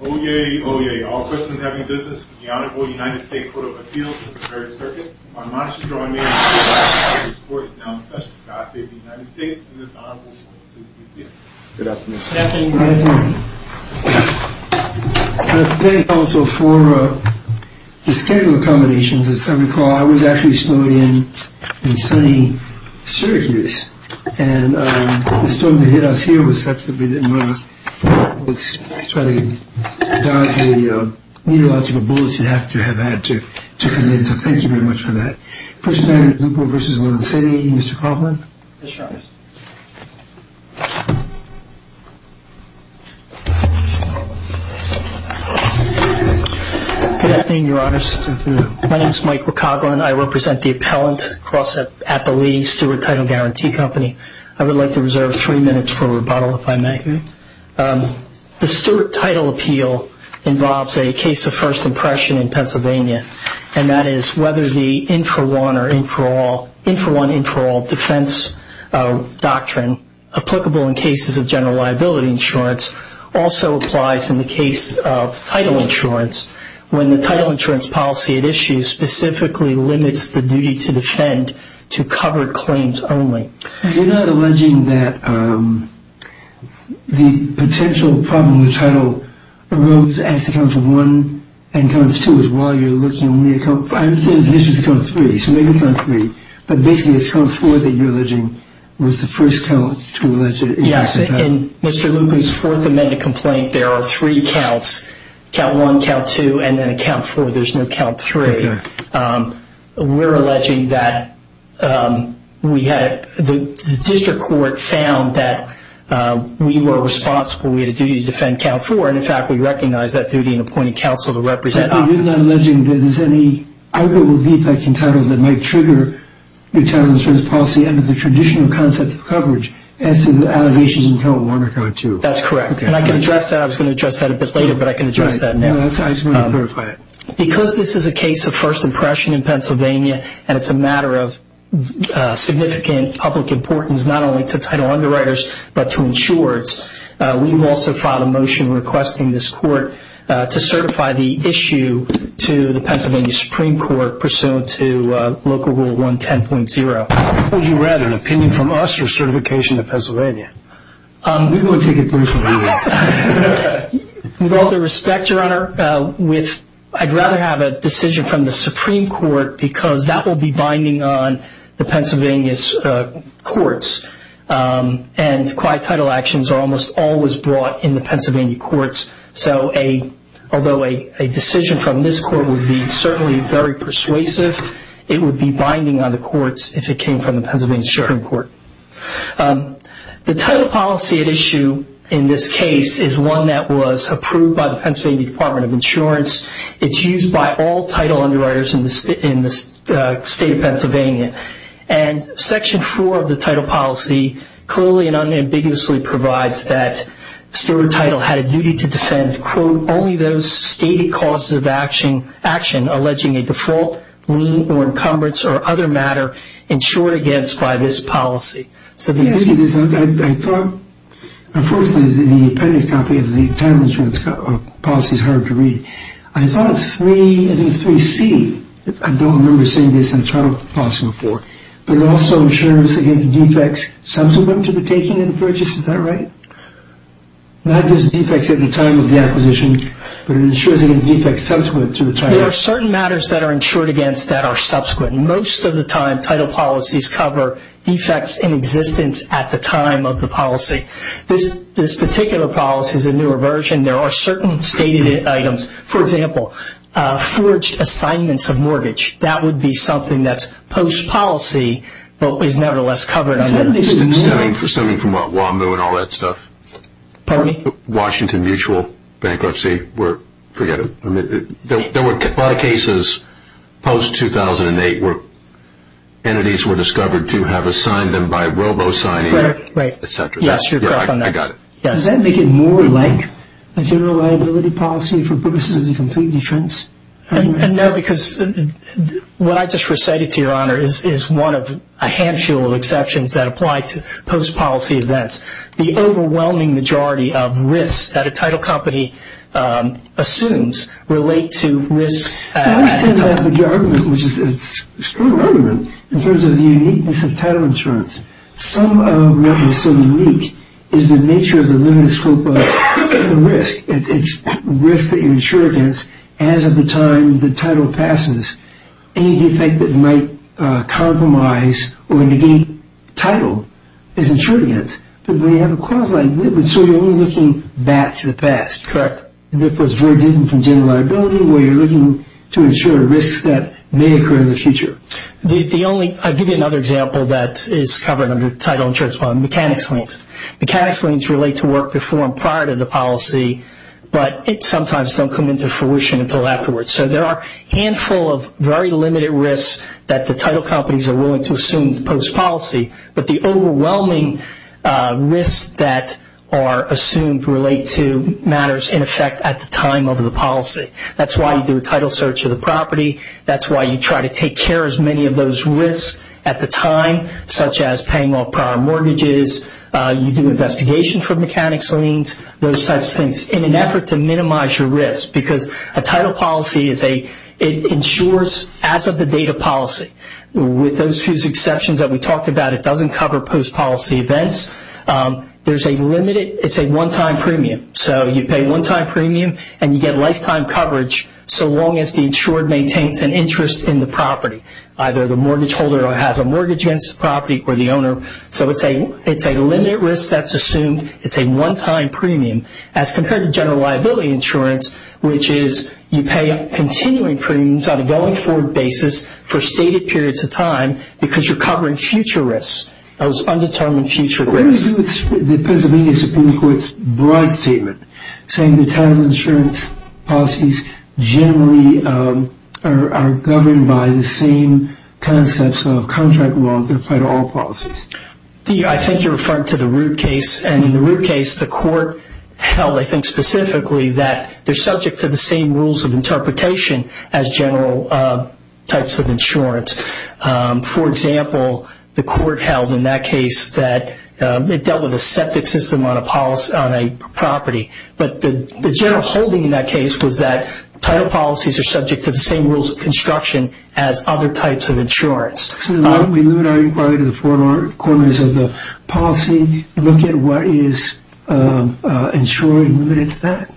Oyez, Oyez, all persons having business with the Honorable United States Court of Appeals of the Third Circuit, are advised to join me in congratulating the Court that is now in session for God Save the United States, and this Honorable Court will please be seated. Good afternoon. Good afternoon. Good afternoon. I'd like to thank you also for the schedule of accommodations. If you recall, I was actually still in sunny Syracuse, and the storm that hit us here was such that we didn't want to try to dodge the meteorological bullets you'd have to have had to commit, so thank you very much for that. First defendant, Lupo v. Loan City, Mr. Coughlin. Yes, Your Honor. Good afternoon, Your Honors. Good afternoon. My name is Michael Coughlin. I represent the appellant at the leading Stewart Title Guarantee Company. I would like to reserve three minutes for rebuttal, if I may. The Stewart Title Appeal involves a case of first impression in Pennsylvania, and that is whether the in-for-one, in-for-all defense doctrine applicable in cases of general liability insurance also applies in the case of title insurance. When the title insurance policy at issue specifically limits the duty to defend to covered claims only. You're not alleging that the potential problem with title arose as to counts one and counts two as well. You're looking only at counts, I understand this is count three, so maybe count three, but basically it's count four that you're alleging was the first count to allege it. Yes. In Mr. Lupin's fourth amended complaint, there are three counts, count one, count two, and then a count four. There's no count three. Okay. We're alleging that the district court found that we were responsible. We had a duty to defend count four, and in fact, we recognize that duty in appointing counsel to represent us. But you're not alleging that there's any arguable defect in titles that might trigger your title insurance policy under the traditional concept of coverage as to the allegations in count one or count two. That's correct. And I can address that. I was going to address that a bit later, but I can address that now. I just wanted to clarify that. Because this is a case of first impression in Pennsylvania, and it's a matter of significant public importance not only to title underwriters but to insurers, we've also filed a motion requesting this court to certify the issue to the Pennsylvania Supreme Court pursuant to Local Rule 110.0. What would you rather, an opinion from us or certification of Pennsylvania? We can go and take it personally. With all due respect, Your Honor, I'd rather have a decision from the Supreme Court because that will be binding on the Pennsylvania's courts, and quiet title actions are almost always brought in the Pennsylvania courts. So although a decision from this court would be certainly very persuasive, it would be binding on the courts if it came from the Pennsylvania Supreme Court. The title policy at issue in this case is one that was approved by the Pennsylvania Department of Insurance. It's used by all title underwriters in the state of Pennsylvania. And Section 4 of the title policy clearly and unambiguously provides that the steward title had a duty to defend, quote, only those stated causes of action alleging a default, lien, or encumbrance, or other matter insured against by this policy. I thought, unfortunately, the appendix copy of the title insurance policy is hard to read. I thought 3C, I don't remember seeing this in the title policy before, but it also insures against defects subsequent to the taking and purchase. Is that right? Not just defects at the time of the acquisition, but it insures against defects subsequent to the time. There are certain matters that are insured against that are subsequent. Most of the time, title policies cover defects in existence at the time of the policy. This particular policy is a newer version. There are certain stated items. For example, forged assignments of mortgage. That would be something that's post-policy, but is nevertheless covered. Stemming from what, WAMU and all that stuff? Pardon me? Washington Mutual bankruptcy. Forget it. There were a lot of cases post-2008 where entities were discovered to have assigned them by robo-signing, etc. Yes, you're correct on that. I got it. Does that make it more like a general liability policy for purposes of the complete insurance? No, because what I just recited to Your Honor is one of a handful of exceptions that apply to post-policy events. The overwhelming majority of risks that a title company assumes relate to risk at the time of the government, which is an extreme argument in terms of the uniqueness of title insurance. Some of what is so unique is the nature of the limited scope of risk. It's risk that you're insured against as of the time the title passes. Any defect that might compromise or negate title is insured against. So you're only looking back to the past. Correct. And therefore, it's very different from general liability where you're looking to insure risks that may occur in the future. I'll give you another example that is covered under the title insurance policy, mechanics liens. Mechanics liens relate to work performed prior to the policy, but it sometimes don't come into fruition until afterwards. So there are a handful of very limited risks that the title companies are willing to assume post-policy, but the overwhelming risks that are assumed relate to matters in effect at the time of the policy. That's why you do a title search of the property. That's why you try to take care of as many of those risks at the time, such as paying off prior mortgages. You do investigation for mechanics liens, those types of things in an effort to minimize your risk because a title policy is a – it insures as of the date of policy. With those few exceptions that we talked about, it doesn't cover post-policy events. There's a limited – it's a one-time premium. So you pay one-time premium and you get lifetime coverage so long as the insured maintains an interest in the property, either the mortgage holder has a mortgage against the property or the owner. So it's a limited risk that's assumed. It's a one-time premium as compared to general liability insurance, which is you pay continuing premiums on a going-forward basis for stated periods of time because you're covering future risks, those undetermined future risks. What do you do with the Pennsylvania Supreme Court's broad statement saying the title insurance policies generally are governed by the same concepts of contract law that apply to all policies? I think you're referring to the Root case. And in the Root case, the court held, I think specifically, that they're subject to the same rules of interpretation as general types of insurance. For example, the court held in that case that it dealt with a septic system on a property. But the general holding in that case was that title policies are subject to the same rules of construction as other types of insurance. So then why don't we limit our inquiry to the four corners of the policy? Look at what is insuring limited to that?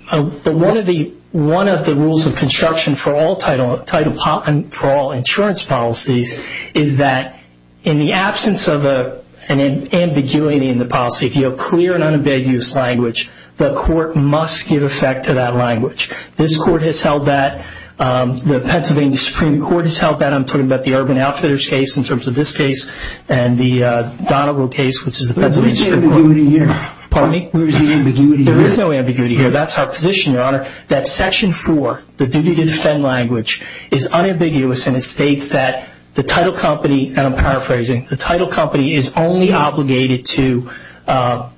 One of the rules of construction for all insurance policies is that in the absence of an ambiguity in the policy, if you have clear and unambiguous language, the court must give effect to that language. This court has held that. The Pennsylvania Supreme Court has held that. I'm talking about the Urban Outfitters case in terms of this case and the Donovo case, which is the Pennsylvania Supreme Court. Where is the ambiguity here? Pardon me? Where is the ambiguity here? There is no ambiguity here. That's our position, Your Honor, that Section 4, the duty to defend language, is unambiguous and it states that the title company, and I'm paraphrasing, the title company is only obligated to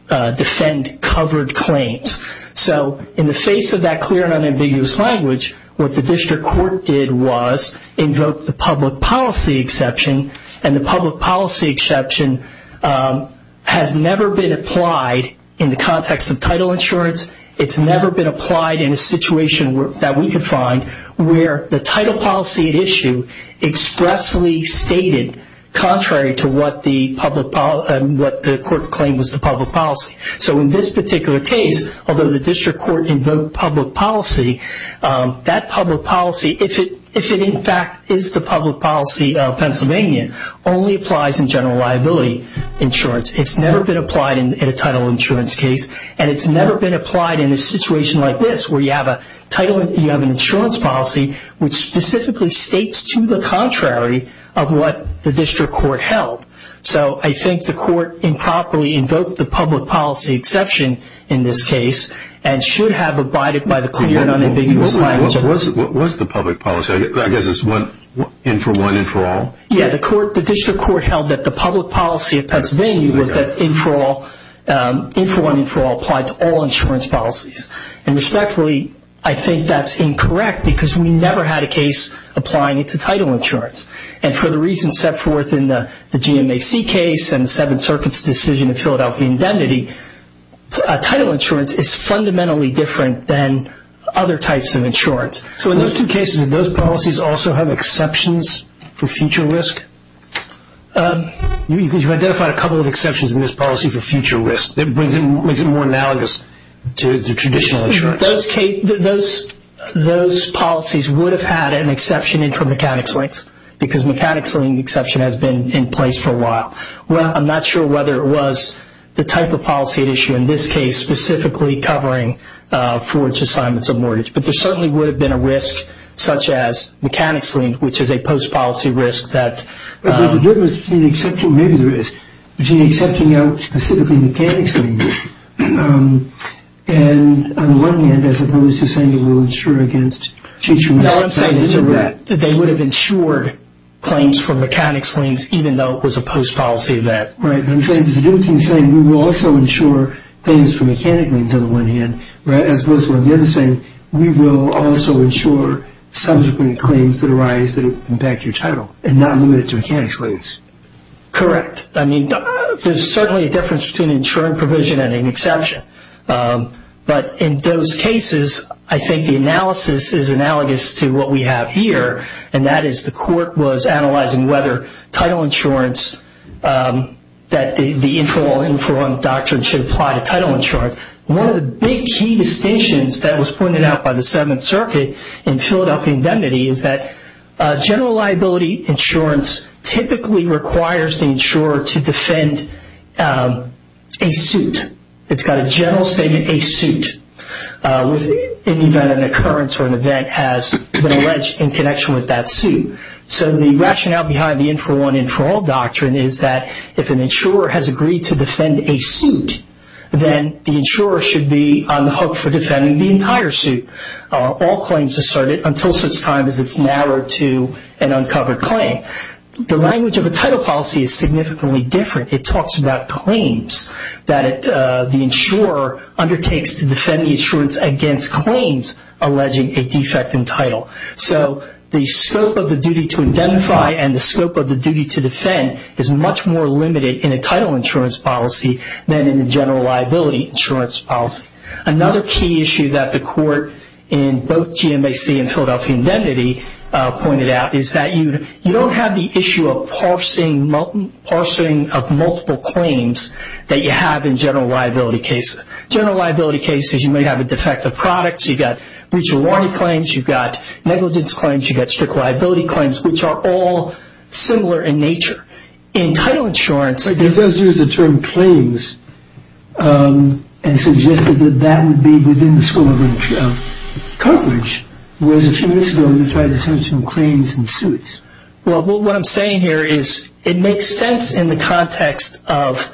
defend covered claims. So in the face of that clear and unambiguous language, what the district court did was invoke the public policy exception and the public policy exception has never been applied in the context of title insurance. It's never been applied in a situation that we could find where the title policy at issue expressly stated, contrary to what the court claimed was the public policy. So in this particular case, although the district court invoked public policy, that public policy, if it in fact is the public policy of Pennsylvania, only applies in general liability insurance. It's never been applied in a title insurance case. And it's never been applied in a situation like this where you have an insurance policy which specifically states to the contrary of what the district court held. So I think the court improperly invoked the public policy exception in this case and should have abided by the clear and unambiguous language. What was the public policy? I guess it's one in for one and for all? Yeah, the district court held that the public policy of Pennsylvania was that in for one and for all applied to all insurance policies. And respectfully, I think that's incorrect because we never had a case applying it to title insurance. And for the reasons set forth in the GMAC case and the Seventh Circuit's decision in Philadelphia indemnity, title insurance is fundamentally different than other types of insurance. So in those two cases, did those policies also have exceptions for future risk? You've identified a couple of exceptions in this policy for future risk. It makes it more analogous to the traditional insurance. Those policies would have had an exception in for mechanics length because mechanics length exception has been in place for a while. I'm not sure whether it was the type of policy at issue in this case specifically covering forwards assignments of mortgage. But there certainly would have been a risk such as mechanics length, which is a post-policy risk. But there's a difference between accepting out specifically mechanics length. And on the one hand, as opposed to saying it will insure against future risk. No, I'm saying they would have insured claims for mechanics lengths even though it was a post-policy event. Right. I'm trying to do the same thing. We will also insure things for mechanics lengths on the one hand as opposed to on the other side. And we will also insure subsequent claims that arise that impact your title and not limit it to mechanics lengths. Correct. I mean, there's certainly a difference between an insuring provision and an exception. But in those cases, I think the analysis is analogous to what we have here, and that is the court was analyzing whether title insurance, that the informal doctrine should apply to title insurance. One of the big key distinctions that was pointed out by the Seventh Circuit in Philadelphia indemnity is that general liability insurance typically requires the insurer to defend a suit. It's got a general statement, a suit, within the event of an occurrence or an event has been alleged in connection with that suit. So the rationale behind the infer one, infer all doctrine is that if an insurer has agreed to defend a suit, then the insurer should be on the hook for defending the entire suit. All claims asserted until such time as it's narrowed to an uncovered claim. The language of a title policy is significantly different. It talks about claims that the insurer undertakes to defend the insurance against claims alleging a defect in title. So the scope of the duty to identify and the scope of the duty to defend is much more limited in a title insurance policy than in a general liability insurance policy. Another key issue that the court in both GMAC and Philadelphia indemnity pointed out is that you don't have the issue of parsing of multiple claims that you have in general liability cases. General liability cases you may have a defective product. You've got breach of warranty claims. You've got negligence claims. You've got strict liability claims, which are all similar in nature. In title insurance... It does use the term claims and suggested that that would be within the scope of coverage, whereas a few minutes ago you tried to say some claims and suits. What I'm saying here is it makes sense in the context of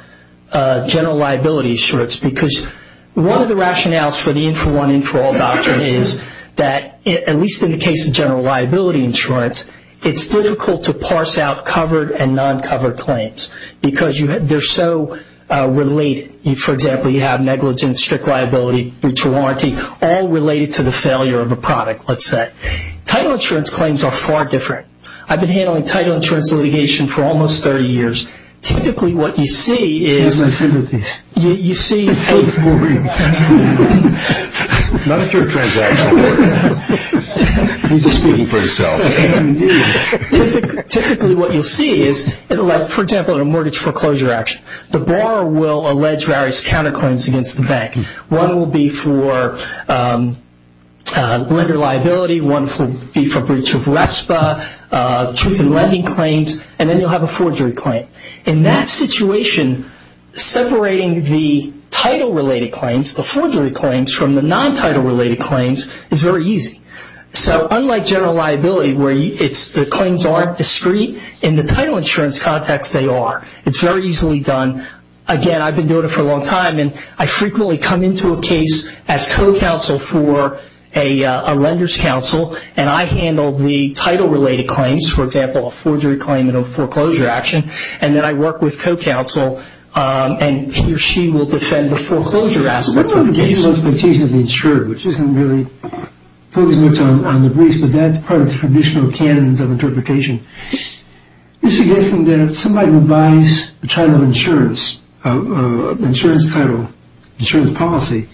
general liability insurance because one of the rationales for the in-for-one, in-for-all doctrine is that, at least in the case of general liability insurance, it's difficult to parse out covered and non-covered claims because they're so related. For example, you have negligence, strict liability, breach of warranty, all related to the failure of a product, let's say. Title insurance claims are far different. I've been handling title insurance litigation for almost 30 years. Typically, what you see is... He doesn't want to sit with me. It's so boring. Not if you're a transactional lawyer. He's just speaking for himself. Typically, what you'll see is, for example, in a mortgage foreclosure action, the borrower will allege various counterclaims against the bank. One will be for lender liability. One will be for breach of RESPA, truth in lending claims, and then you'll have a forgery claim. In that situation, separating the title-related claims, the forgery claims, from the non-title-related claims is very easy. Unlike general liability where the claims aren't discrete, in the title insurance context, they are. It's very easily done. Again, I've been doing it for a long time, and I frequently come into a case as co-counsel for a lender's counsel, and I handle the title-related claims, for example, a forgery claim and a foreclosure action, and then I work with co-counsel, and he or she will defend the foreclosure aspects of the case. What about the legal expectation of the insured, which isn't really focused much on the breach, but that's part of the traditional canons of interpretation? You're suggesting that somebody who buys the title insurance, insurance title, insurance policy,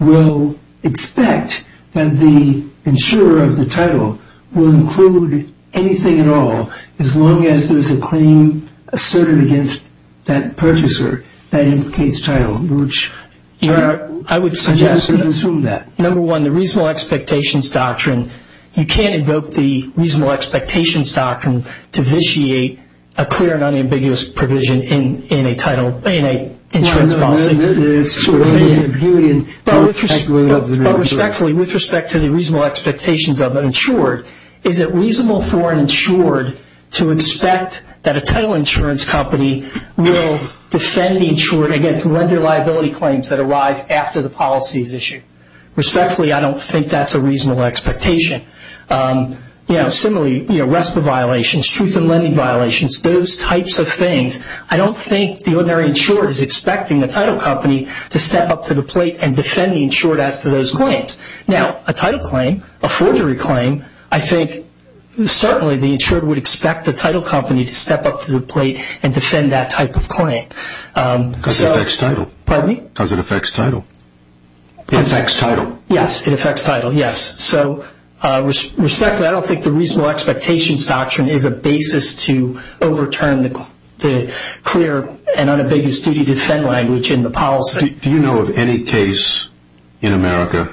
will expect that the insurer of the title will include anything at all as long as there's a claim asserted against that purchaser that implicates title, which I would suggest you assume that. Number one, the reasonable expectations doctrine, you can't invoke the reasonable expectations doctrine to vitiate a clear and unambiguous provision in a insurance policy. But respectfully, with respect to the reasonable expectations of an insured, is it reasonable for an insured to expect that a title insurance company will defend the insured against lender liability claims that arise after the policy is issued? Respectfully, I don't think that's a reasonable expectation. Similarly, RESPA violations, truth in lending violations, those types of things, I don't think the ordinary insured is expecting the title company to step up to the plate and defend the insured as to those claims. Now, a title claim, a forgery claim, I think certainly the insured would expect the title company to step up to the plate and defend that type of claim. Because it affects title. Pardon me? Because it affects title. It affects title. Yes, it affects title, yes. So respectfully, I don't think the reasonable expectations doctrine is a basis to overturn the clear and unambiguous duty to defend language in the policy. Do you know of any case in America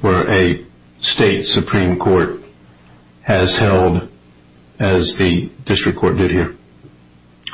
where a state supreme court has held as the district court did here?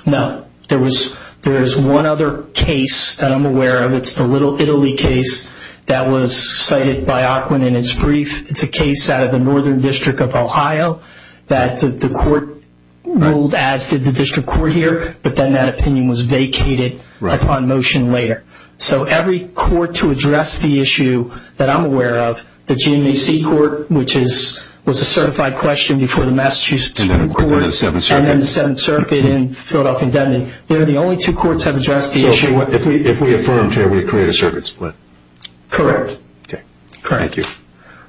No. There is one other case that I'm aware of. It's the Little Italy case that was cited by Aquin in his brief. It's a case out of the Northern District of Ohio that the court ruled as did the district court here, but then that opinion was vacated upon motion later. So every court to address the issue that I'm aware of, the GMAC court, which was a certified question before the Massachusetts Supreme Court. And then the Seventh Circuit. And then the Seventh Circuit and Philadelphia Indemnity. They're the only two courts that have addressed the issue. So if we affirm here, we create a circuit split. Correct. Okay. Thank you.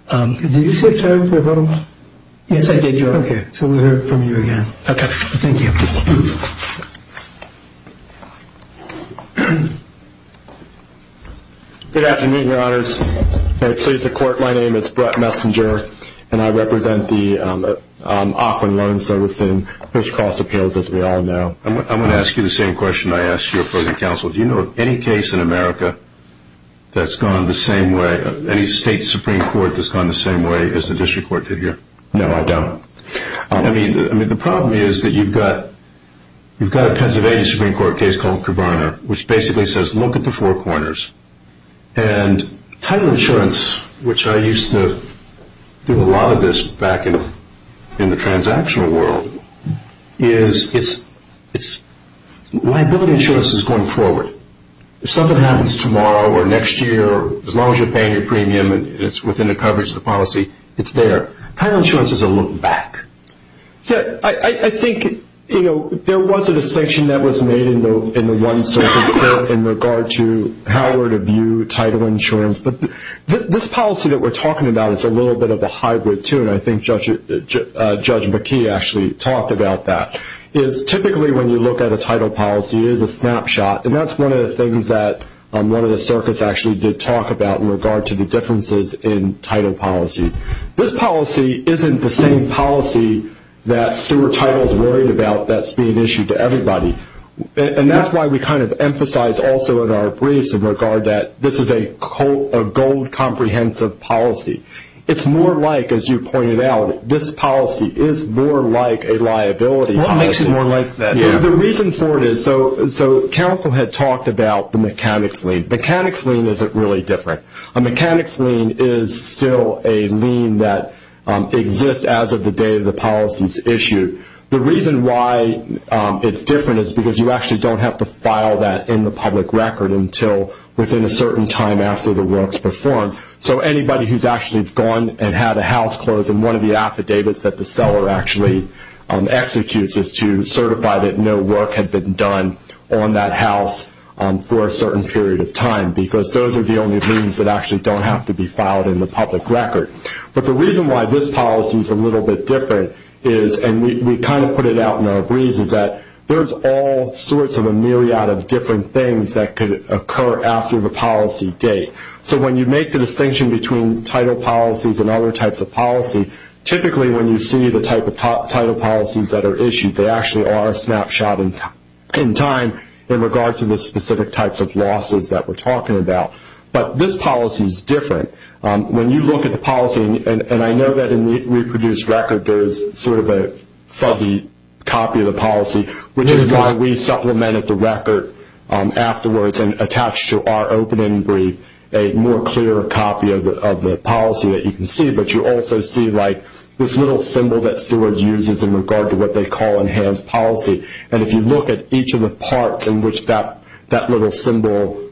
Did you say something about them? Yes, I did, Your Honor. Okay. So we'll hear from you again. Okay. Thank you. Good afternoon, Your Honors. Very pleased to court. My name is Brett Messinger, and I represent the Aquin Loan Servicing Fish Cost Appeals, as we all know. I'm going to ask you the same question I asked your opposing counsel. Do you know of any case in America that's gone the same way, any state Supreme Court that's gone the same way as the district court did here? No, I don't. I mean, the problem is that you've got a Pennsylvania Supreme Court case called Cabriner, which basically says look at the four corners. And title insurance, which I used to do a lot of this back in the transactional world, is liability insurance is going forward. If something happens tomorrow or next year, as long as you're paying your premium and it's within the coverage of the policy, it's there. Title insurance is a look back. Yeah, I think, you know, there was a distinction that was made in the one circuit court in regard to how we're to view title insurance. But this policy that we're talking about is a little bit of a hybrid, too, and I think Judge McKee actually talked about that, is typically when you look at a title policy, it is a snapshot. And that's one of the things that one of the circuits actually did talk about in regard to the differences in title policies. This policy isn't the same policy that steward title is worried about that's being issued to everybody. And that's why we kind of emphasize also in our briefs in regard that this is a gold comprehensive policy. It's more like, as you pointed out, this policy is more like a liability policy. What makes it more like that? The reason for it is, so counsel had talked about the mechanics lien. The mechanics lien isn't really different. A mechanics lien is still a lien that exists as of the date of the policy's issue. The reason why it's different is because you actually don't have to file that in the public record until within a certain time after the work's performed. So anybody who's actually gone and had a house closed, and one of the affidavits that the seller actually executes is to certify that no work had been done on that house for a certain period of time because those are the only liens that actually don't have to be filed in the public record. But the reason why this policy is a little bit different is, and we kind of put it out in our briefs, is that there's all sorts of a myriad of different things that could occur after the policy date. So when you make the distinction between title policies and other types of policy, typically when you see the type of title policies that are issued, they actually are a snapshot in time in regard to the specific types of losses that we're talking about. But this policy is different. When you look at the policy, and I know that in the reproduced record, there is sort of a fuzzy copy of the policy, which is why we supplemented the record afterwards and attached to our opening brief a more clear copy of the policy that you can see. But you also see like this little symbol that Stewards uses in regard to what they call enhanced policy. And if you look at each of the parts in which that little symbol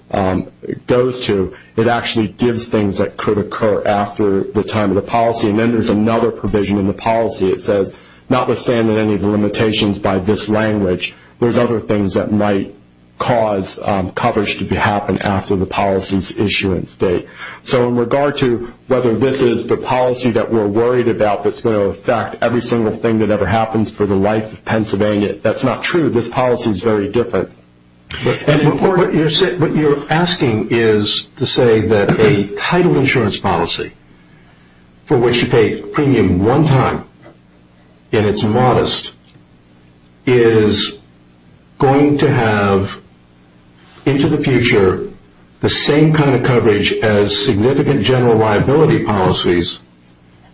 goes to, it actually gives things that could occur after the time of the policy. And then there's another provision in the policy. It says, notwithstanding any of the limitations by this language, there's other things that might cause coverage to happen after the policy's issuance date. So in regard to whether this is the policy that we're worried about that's going to affect every single thing that ever happens for the life of Pennsylvania, that's not true. This policy is very different. What you're asking is to say that a title insurance policy for which you pay premium one time and it's modest is going to have into the future the same kind of coverage as significant general liability policies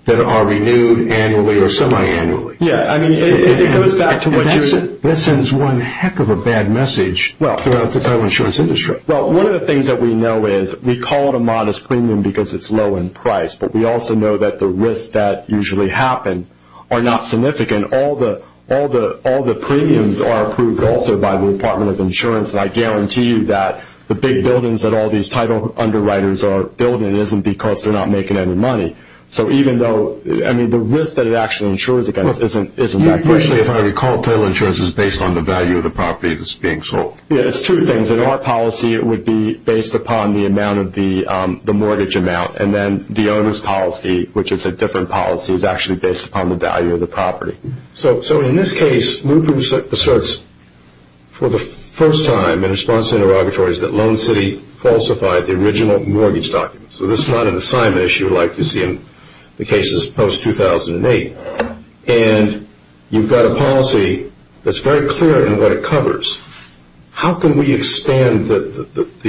that are renewed annually or semi-annually. Yeah, I mean, it goes back to what you were saying. That sends one heck of a bad message throughout the title insurance industry. Well, one of the things that we know is we call it a modest premium because it's low in price, but we also know that the risks that usually happen are not significant. All the premiums are approved also by the Department of Insurance, and I guarantee you that the big buildings that all these title underwriters are building isn't because they're not making any money. So even though, I mean, the risk that it actually insures against isn't that great. If I recall, title insurance is based on the value of the property that's being sold. Yeah, it's two things. In our policy it would be based upon the amount of the mortgage amount, and then the owner's policy, which is a different policy, is actually based upon the value of the property. So in this case, Lupu asserts for the first time in response to interrogatories that Loan City falsified the original mortgage documents. So this is not an assignment issue like you see in the cases post-2008, and you've got a policy that's very clear in what it covers. How can we expand the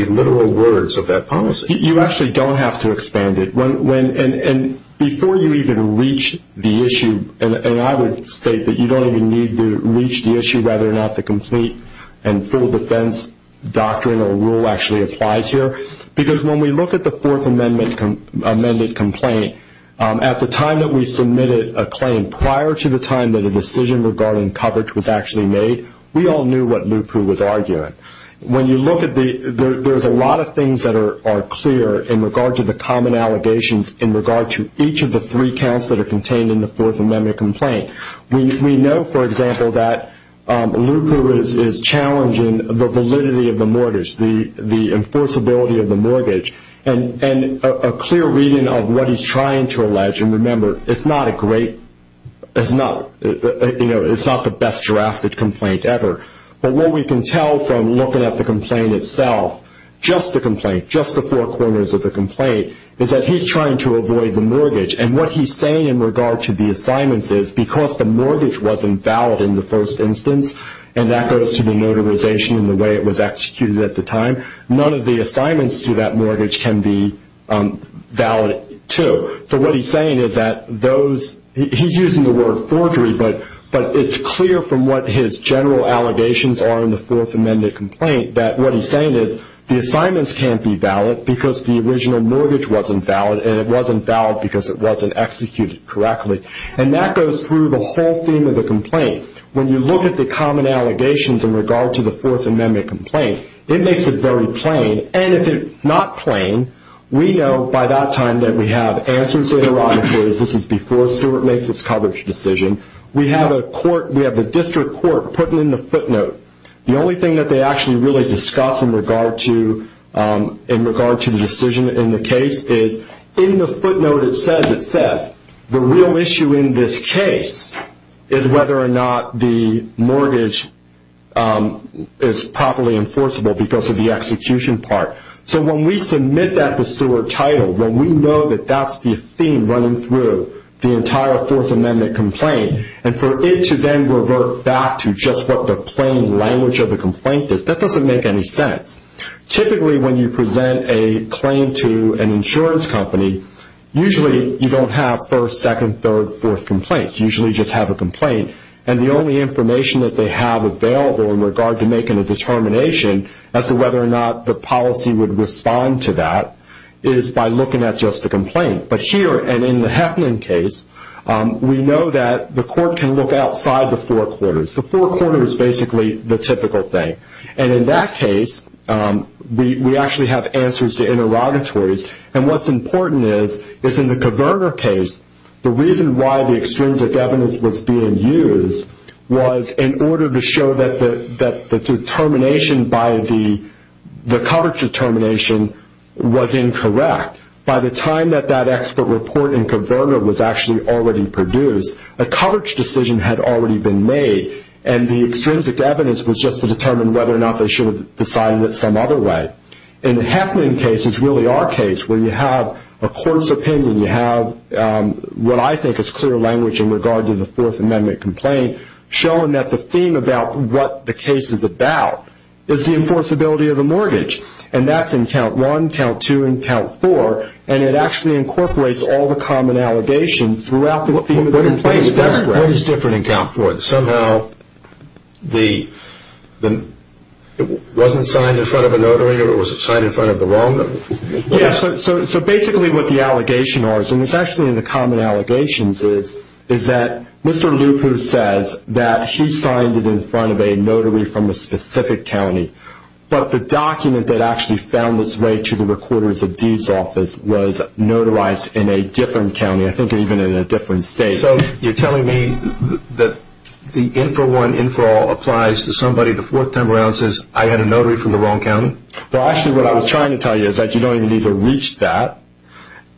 literal words of that policy? You actually don't have to expand it. And before you even reach the issue, and I would state that you don't even need to reach the issue whether or not the complete and full defense doctrine or rule actually applies here, because when we look at the Fourth Amendment amended complaint, at the time that we submitted a claim prior to the time that a decision regarding coverage was actually made, we all knew what Lupu was arguing. When you look at the – there's a lot of things that are clear in regard to the common allegations in regard to each of the three counts that are contained in the Fourth Amendment complaint. We know, for example, that Lupu is challenging the validity of the mortgage, the enforceability of the mortgage, and a clear reading of what he's trying to allege. And remember, it's not a great – it's not the best drafted complaint ever. But what we can tell from looking at the complaint itself, just the complaint, just the four corners of the complaint, is that he's trying to avoid the mortgage. And what he's saying in regard to the assignments is because the mortgage wasn't valid in the first instance, and that goes to the notarization and the way it was executed at the time, none of the assignments to that mortgage can be valid too. So what he's saying is that those – he's using the word forgery, but it's clear from what his general allegations are in the Fourth Amendment complaint that what he's saying is the assignments can't be valid because the original mortgage wasn't valid, and it wasn't valid because it wasn't executed correctly. And that goes through the whole theme of the complaint. When you look at the common allegations in regard to the Fourth Amendment complaint, it makes it very plain. And if it's not plain, we know by that time that we have answers to the robberies. This is before Stewart makes his coverage decision. We have a court – we have the district court putting in the footnote. The only thing that they actually really discuss in regard to the decision in the case is in the footnote it says, it says the real issue in this case is whether or not the mortgage is properly enforceable because of the execution part. So when we submit that to Stewart Title, when we know that that's the theme running through the entire Fourth Amendment complaint, and for it to then revert back to just what the plain language of the complaint is, that doesn't make any sense. Typically when you present a claim to an insurance company, usually you don't have first, second, third, fourth complaints. You usually just have a complaint. And the only information that they have available in regard to making a determination as to whether or not the policy would respond to that is by looking at just the complaint. But here, and in the Heffnan case, we know that the court can look outside the four quarters. The four quarters is basically the typical thing. And in that case, we actually have answers to interrogatories. And what's important is, is in the Kverner case, the reason why the extrinsic evidence was being used was in order to show that the determination by the coverage determination was incorrect. By the time that that expert report in Kverner was actually already produced, a coverage decision had already been made, and the extrinsic evidence was just to determine whether or not they should have decided it some other way. In the Heffnan case, it's really our case, where you have a court's opinion, you have what I think is clear language in regard to the Fourth Amendment complaint, showing that the theme about what the case is about is the enforceability of the mortgage. And that's in Count 1, Count 2, and Count 4, and it actually incorporates all the common allegations throughout the theme of the complaint. What is different in Count 4? Somehow it wasn't signed in front of a notary, or was it signed in front of the wrong notary? Yes, so basically what the allegations are, and it's actually in the common allegations, is that Mr. Lupu says that he signed it in front of a notary from a specific county, but the document that actually found its way to the recorder's of deeds office was notarized in a different county, I think even in a different state. So you're telling me that the Infor1, InforAll applies to somebody, the fourth time around says, I had a notary from the wrong county? Well, actually what I was trying to tell you is that you don't even need to reach that.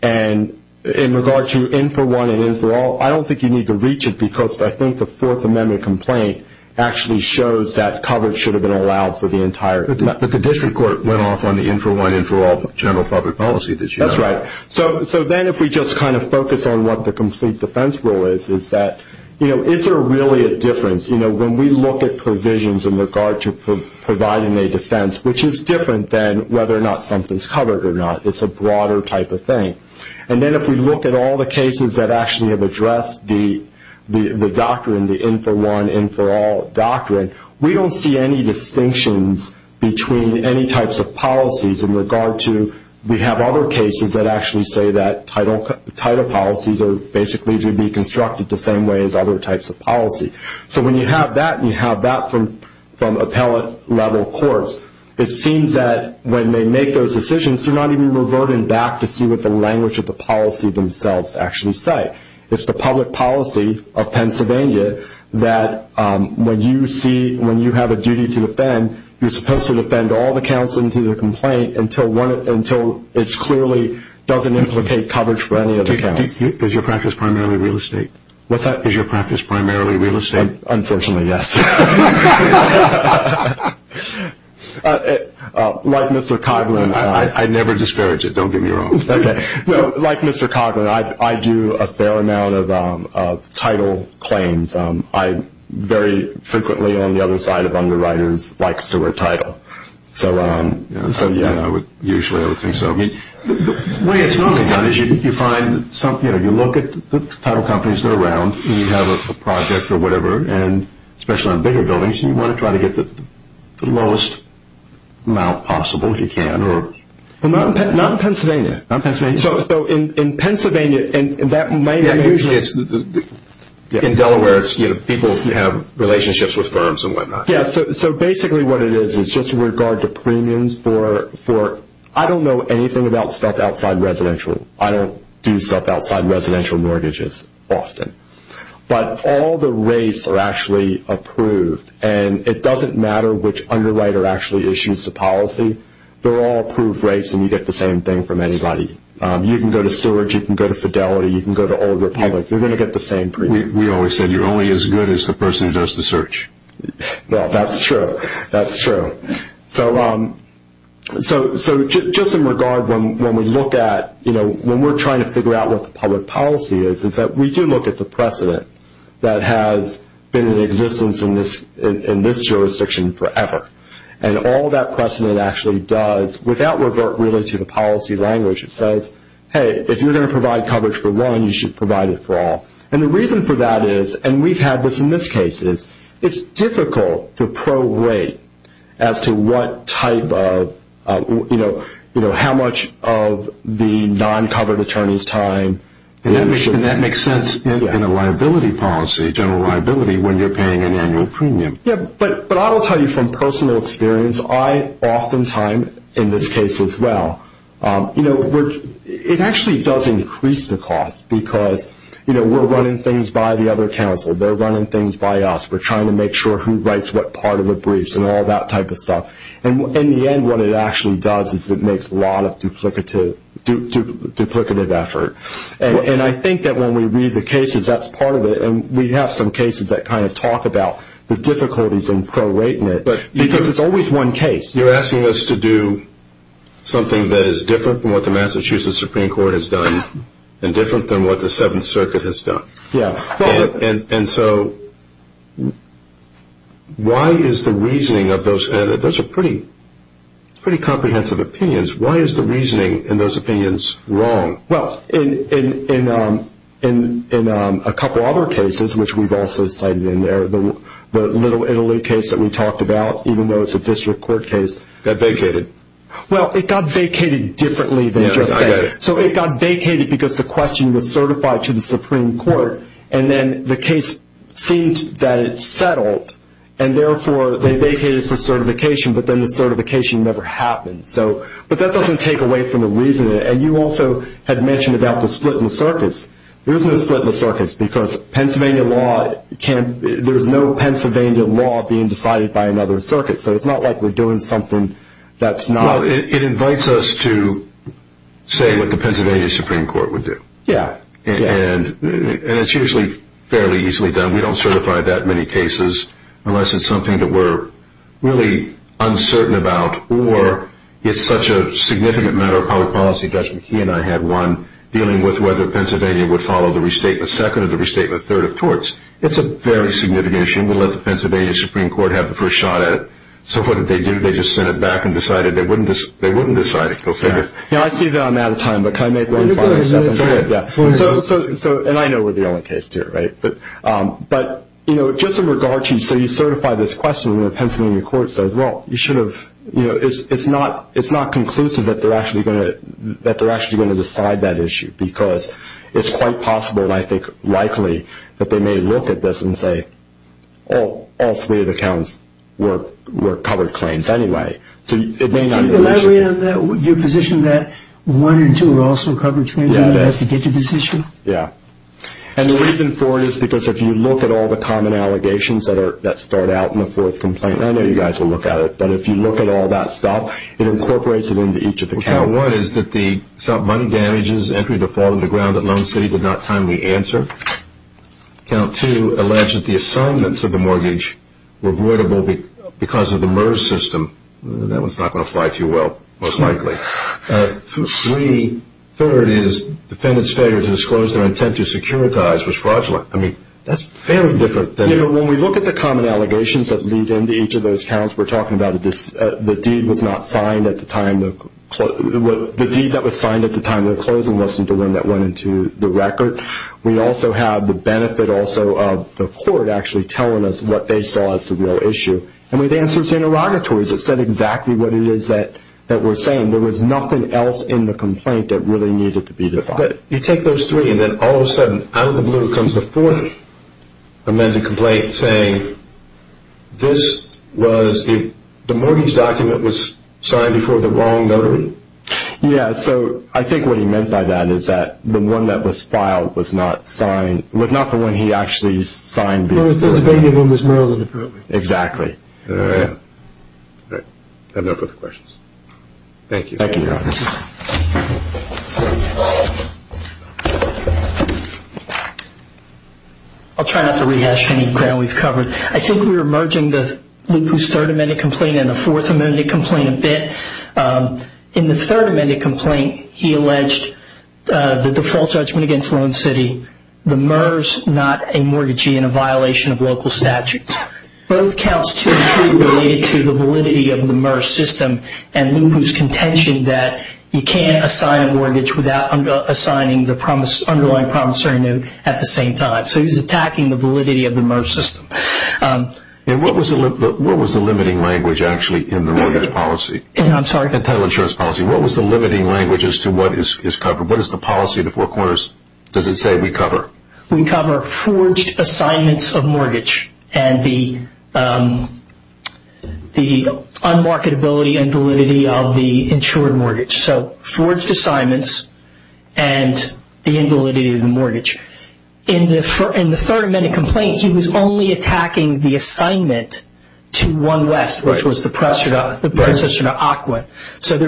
And in regard to Infor1 and InforAll, I don't think you need to reach it because I think the Fourth Amendment complaint actually shows that coverage should have been allowed for the entire time. But the district court went off on the Infor1, InforAll general public policy this year. That's right. So then if we just kind of focus on what the complete defense rule is, is that, you know, is there really a difference? You know, when we look at provisions in regard to providing a defense, which is different than whether or not something is covered or not. It's a broader type of thing. And then if we look at all the cases that actually have addressed the doctrine, the Infor1, InforAll doctrine, we don't see any distinctions between any types of policies in regard to, we have other cases that actually say that title policies are basically to be constructed the same way as other types of policy. So when you have that and you have that from appellate level courts, it seems that when they make those decisions, they're not even reverting back to see what the language of the policy themselves actually say. It's the public policy of Pennsylvania that when you see, when you have a duty to defend, you're supposed to defend all the counts into the complaint until it clearly doesn't implicate coverage for any of the counts. Is your practice primarily real estate? What's that? Is your practice primarily real estate? Unfortunately, yes. Like Mr. Coughlin. I never disparage it. Don't get me wrong. Okay. Like Mr. Coughlin, I do a fair amount of title claims. I very frequently, on the other side of underwriters, like Stewart Title. Yeah, usually I would think so. The way it's normally done is you look at the title companies that are around, and you have a project or whatever, especially on bigger buildings, and you want to try to get the lowest amount possible if you can. Not in Pennsylvania. Not in Pennsylvania. So in Pennsylvania, that might be usually. In Delaware, people have relationships with firms and whatnot. Yeah, so basically what it is is just in regard to premiums for, I don't know anything about stuff outside residential. I don't do stuff outside residential mortgages often. But all the rates are actually approved, and it doesn't matter which underwriter actually issues the policy. They're all approved rates, and you get the same thing from anybody. You can go to Stewart. You can go to Fidelity. You can go to Old Republic. You're going to get the same premium. We always said you're only as good as the person who does the search. Well, that's true. That's true. So just in regard, when we look at, you know, when we're trying to figure out what the public policy is, is that we do look at the precedent that has been in existence in this jurisdiction forever. And all that precedent actually does, without revert really to the policy language, it says, hey, if you're going to provide coverage for one, you should provide it for all. And the reason for that is, and we've had this in this case, is it's difficult to pro-rate as to what type of, you know, how much of the non-covered attorney's time. And that makes sense in a liability policy, general liability, when you're paying an annual premium. Yeah, but I will tell you from personal experience, I oftentimes, in this case as well, you know, it actually does increase the cost because, you know, we're running things by the other counsel. They're running things by us. We're trying to make sure who writes what part of the briefs and all that type of stuff. And in the end, what it actually does is it makes a lot of duplicative effort. And I think that when we read the cases, that's part of it. And we have some cases that kind of talk about the difficulties in pro-rating it, because it's always one case. You're asking us to do something that is different from what the Massachusetts Supreme Court has done and different than what the Seventh Circuit has done. Yeah. And so why is the reasoning of those, and those are pretty comprehensive opinions, why is the reasoning in those opinions wrong? Well, in a couple other cases, which we've also cited in there, the Little Italy case that we talked about, even though it's a district court case. It got vacated. Well, it got vacated differently than it just said. Yeah, I get it. So it got vacated because the question was certified to the Supreme Court, and then the case seemed that it settled, and therefore they vacated for certification, but then the certification never happened. But that doesn't take away from the reasoning. And you also had mentioned about the split in the circuits. There isn't a split in the circuits, because Pennsylvania law can't, there's no Pennsylvania law being decided by another circuit, so it's not like we're doing something that's not. Well, it invites us to say what the Pennsylvania Supreme Court would do. Yeah. And it's usually fairly easily done. We don't certify that many cases unless it's something that we're really uncertain about or it's such a significant matter of public policy. Judge McKee and I had one dealing with whether Pennsylvania would follow the restatement second or the restatement third of torts. It's a very significant issue, and we let the Pennsylvania Supreme Court have the first shot at it. So what did they do? They just sent it back and decided they wouldn't decide it. Go figure. Yeah, I see that I'm out of time, but can I make one final statement? Go ahead. So, and I know we're the only case here, right? But just in regard to, so you certify this question, well, you should have, you know, it's not conclusive that they're actually going to decide that issue because it's quite possible, and I think likely, that they may look at this and say, all three of the counts were covered claims anyway. So it may not be the issue. Can you elaborate on that, your position that one and two are also covered claims and you have to get to this issue? Yeah. And the reason for it is because if you look at all the common allegations that start out in the fourth complaint, I know you guys will look at it, but if you look at all that stuff, it incorporates it into each of the counts. Count one is that the money damages entry to fall to the ground at Lone City did not timely answer. Count two alleged that the assignments of the mortgage were voidable because of the MERS system. That one's not going to fly too well, most likely. Three, third is defendant's failure to disclose their intent to securitize was fraudulent. I mean, that's fairly different than You know, when we look at the common allegations that lead into each of those counts, we're talking about the deed that was signed at the time of the closing, that's the one that went into the record. We also have the benefit also of the court actually telling us what they saw as the real issue. And with answers to interrogatories, it said exactly what it is that we're saying. There was nothing else in the complaint that really needed to be decided. But you take those three, and then all of a sudden, out of the blue, comes the fourth amended complaint saying this was the mortgage document was signed before the wrong notary? Yeah, so I think what he meant by that is that the one that was filed was not signed, was not the one he actually signed before the wrong notary. The one that was signed was Merlin, apparently. Exactly. All right, I have no further questions. Thank you. Thank you, Your Honor. I'll try not to rehash any ground we've covered. I think we were merging Lupu's third amended complaint and the fourth amended complaint a bit. In the third amended complaint, he alleged the default judgment against Loan City, the MERS, not a mortgagee and a violation of local statutes. Both counts to be true related to the validity of the MERS system and Lupu's contention that you can't assign a mortgage without assigning the underlying promissory note at the same time. So he's attacking the validity of the MERS system. And what was the limiting language, actually, in the mortgage policy? I'm sorry? In title insurance policy. What was the limiting language as to what is covered? What is the policy of the Four Corners? Does it say we cover? We cover forged assignments of mortgage and the unmarketability and validity of the insured mortgage. So forged assignments and the invalidity of the mortgage. In the third amended complaint, he was only attacking the assignment to One West, which was the predecessor to AQUA. So there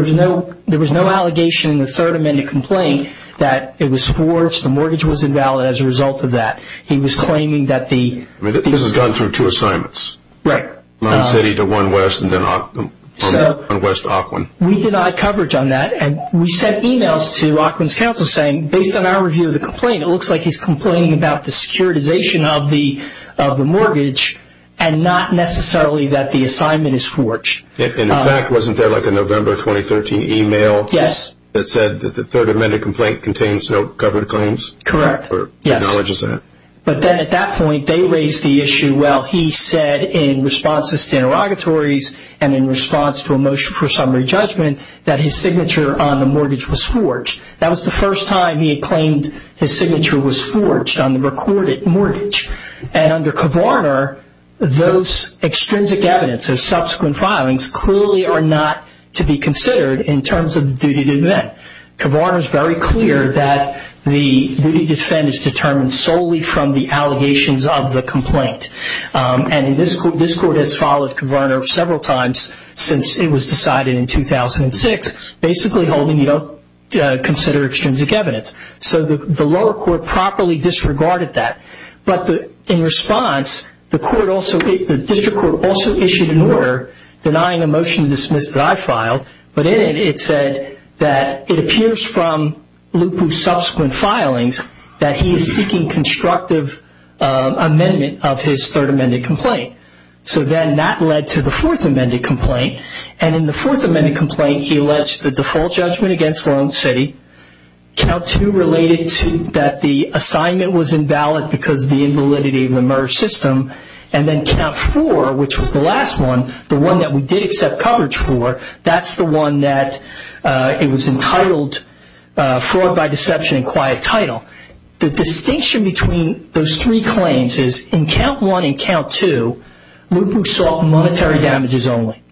was no allegation in the third amended complaint that it was forged, the mortgage was invalid as a result of that. He was claiming that the... This has gone through two assignments. Right. One city to One West and then One West to AQUIN. We denied coverage on that and we sent emails to AQUIN's counsel saying, based on our review of the complaint, it looks like he's complaining about the securitization of the mortgage and not necessarily that the assignment is forged. And in fact, wasn't there like a November 2013 email... Yes. ...that said that the third amended complaint contains no covered claims? Correct. Or acknowledges that. But then at that point, they raised the issue, well, he said in response to interrogatories and in response to a motion for summary judgment that his signature on the mortgage was forged. That was the first time he had claimed his signature was forged on the recorded mortgage. And under Kvarner, those extrinsic evidence, those subsequent filings, clearly are not to be considered in terms of the duty to defend. Kvarner is very clear that the duty to defend is determined solely from the allegations of the complaint. And this court has followed Kvarner several times since it was decided in 2006, basically holding you don't consider extrinsic evidence. So the lower court properly disregarded that. But in response, the district court also issued an order denying a motion to dismiss that I filed. But in it, it said that it appears from Lupu's subsequent filings that he is seeking constructive amendment of his third amended complaint. So then that led to the fourth amended complaint. And in the fourth amended complaint, he alleged the default judgment against Long City. Count two related to that the assignment was invalid because of the invalidity of the merge system. And then count four, which was the last one, the one that we did accept coverage for, that's the one that it was entitled fraud by deception and quiet title. The distinction between those three claims is in count one and count two, Lupu sought monetary damages only.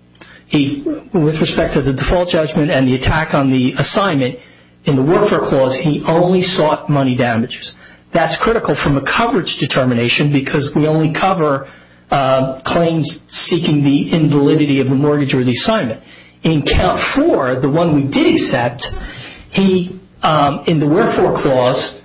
With respect to the default judgment and the attack on the assignment, in the warfare clause, he only sought money damages. That's critical from a coverage determination because we only cover claims seeking the invalidity of the mortgage or the assignment. In count four, the one we did accept, in the warfare clause,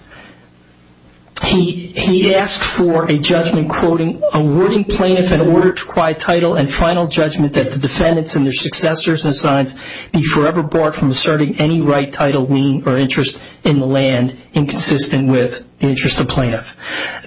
he asked for a judgment quoting a wording plaintiff in order to quiet title and final judgment that the defendants and their successors and signs be forever barred from asserting any right, title, lien, or interest in the land inconsistent with the interest of plaintiff.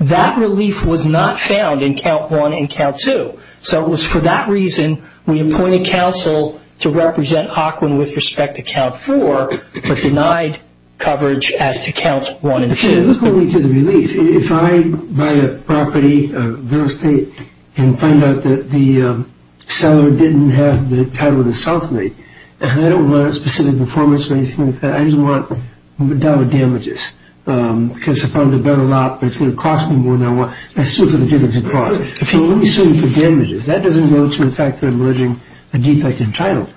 That relief was not found in count one and count two. So it was for that reason we appointed counsel to represent Ocwen with respect to count four but denied coverage as to counts one and two. Let's go into the relief. If I buy a property, a real estate, and find out that the seller didn't have the title of the self-made, and I don't want a specific performance or anything like that, I just want dollar damages because I found a better lot, but it's going to cost me more than I want. I sue for the due diligence clause. Let me sue you for damages. That doesn't go to the fact that I'm alleging a defect in title.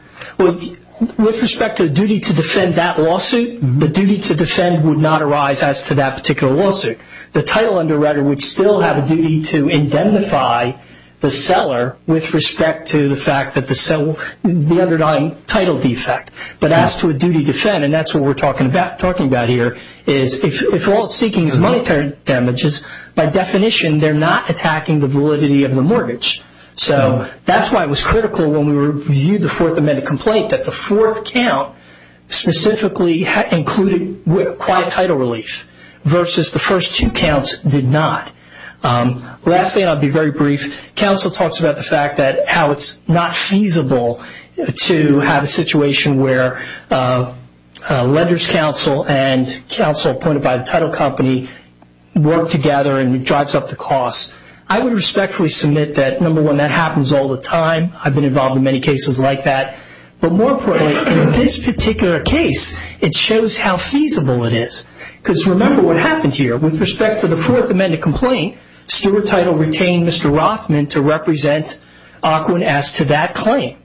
With respect to duty to defend that lawsuit, the duty to defend would not arise as to that particular lawsuit. The title underwriter would still have a duty to indemnify the seller with respect to the fact that the underlying title defect. But as to a duty to defend, and that's what we're talking about here, is if all it's seeking is monetary damages, by definition, they're not attacking the validity of the mortgage. So that's why it was critical when we reviewed the Fourth Amendment complaint that the fourth count specifically included quiet title relief versus the first two counts did not. Lastly, and I'll be very brief, counsel talks about the fact that how it's not feasible to have a situation where a lender's counsel and counsel appointed by the title company work together and drives up the cost. I would respectfully submit that, number one, that happens all the time. I've been involved in many cases like that. But more importantly, in this particular case, it shows how feasible it is. Because remember what happened here. With respect to the Fourth Amendment complaint, steward title retained Mr. Rothman to represent Ocwen as to that claim.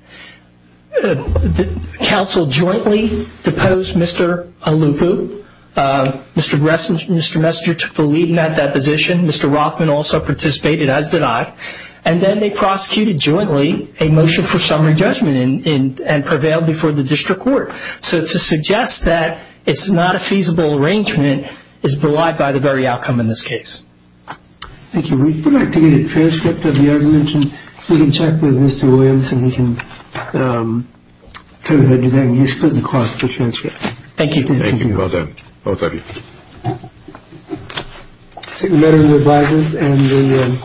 Counsel jointly deposed Mr. Alupu. Mr. Messenger took the lead in that deposition. Mr. Rothman also participated as did I. And then they prosecuted jointly a motion for summary judgment and prevailed before the district court. So to suggest that it's not a feasible arrangement is belied by the very outcome in this case. Thank you. We would like to get a transcript of the argument, and we can check with Mr. Williams and he can tell us how to use the transcript. Thank you. Thank you. Well done, both of you. I take the matter into advisement. And the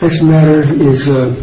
next matter is.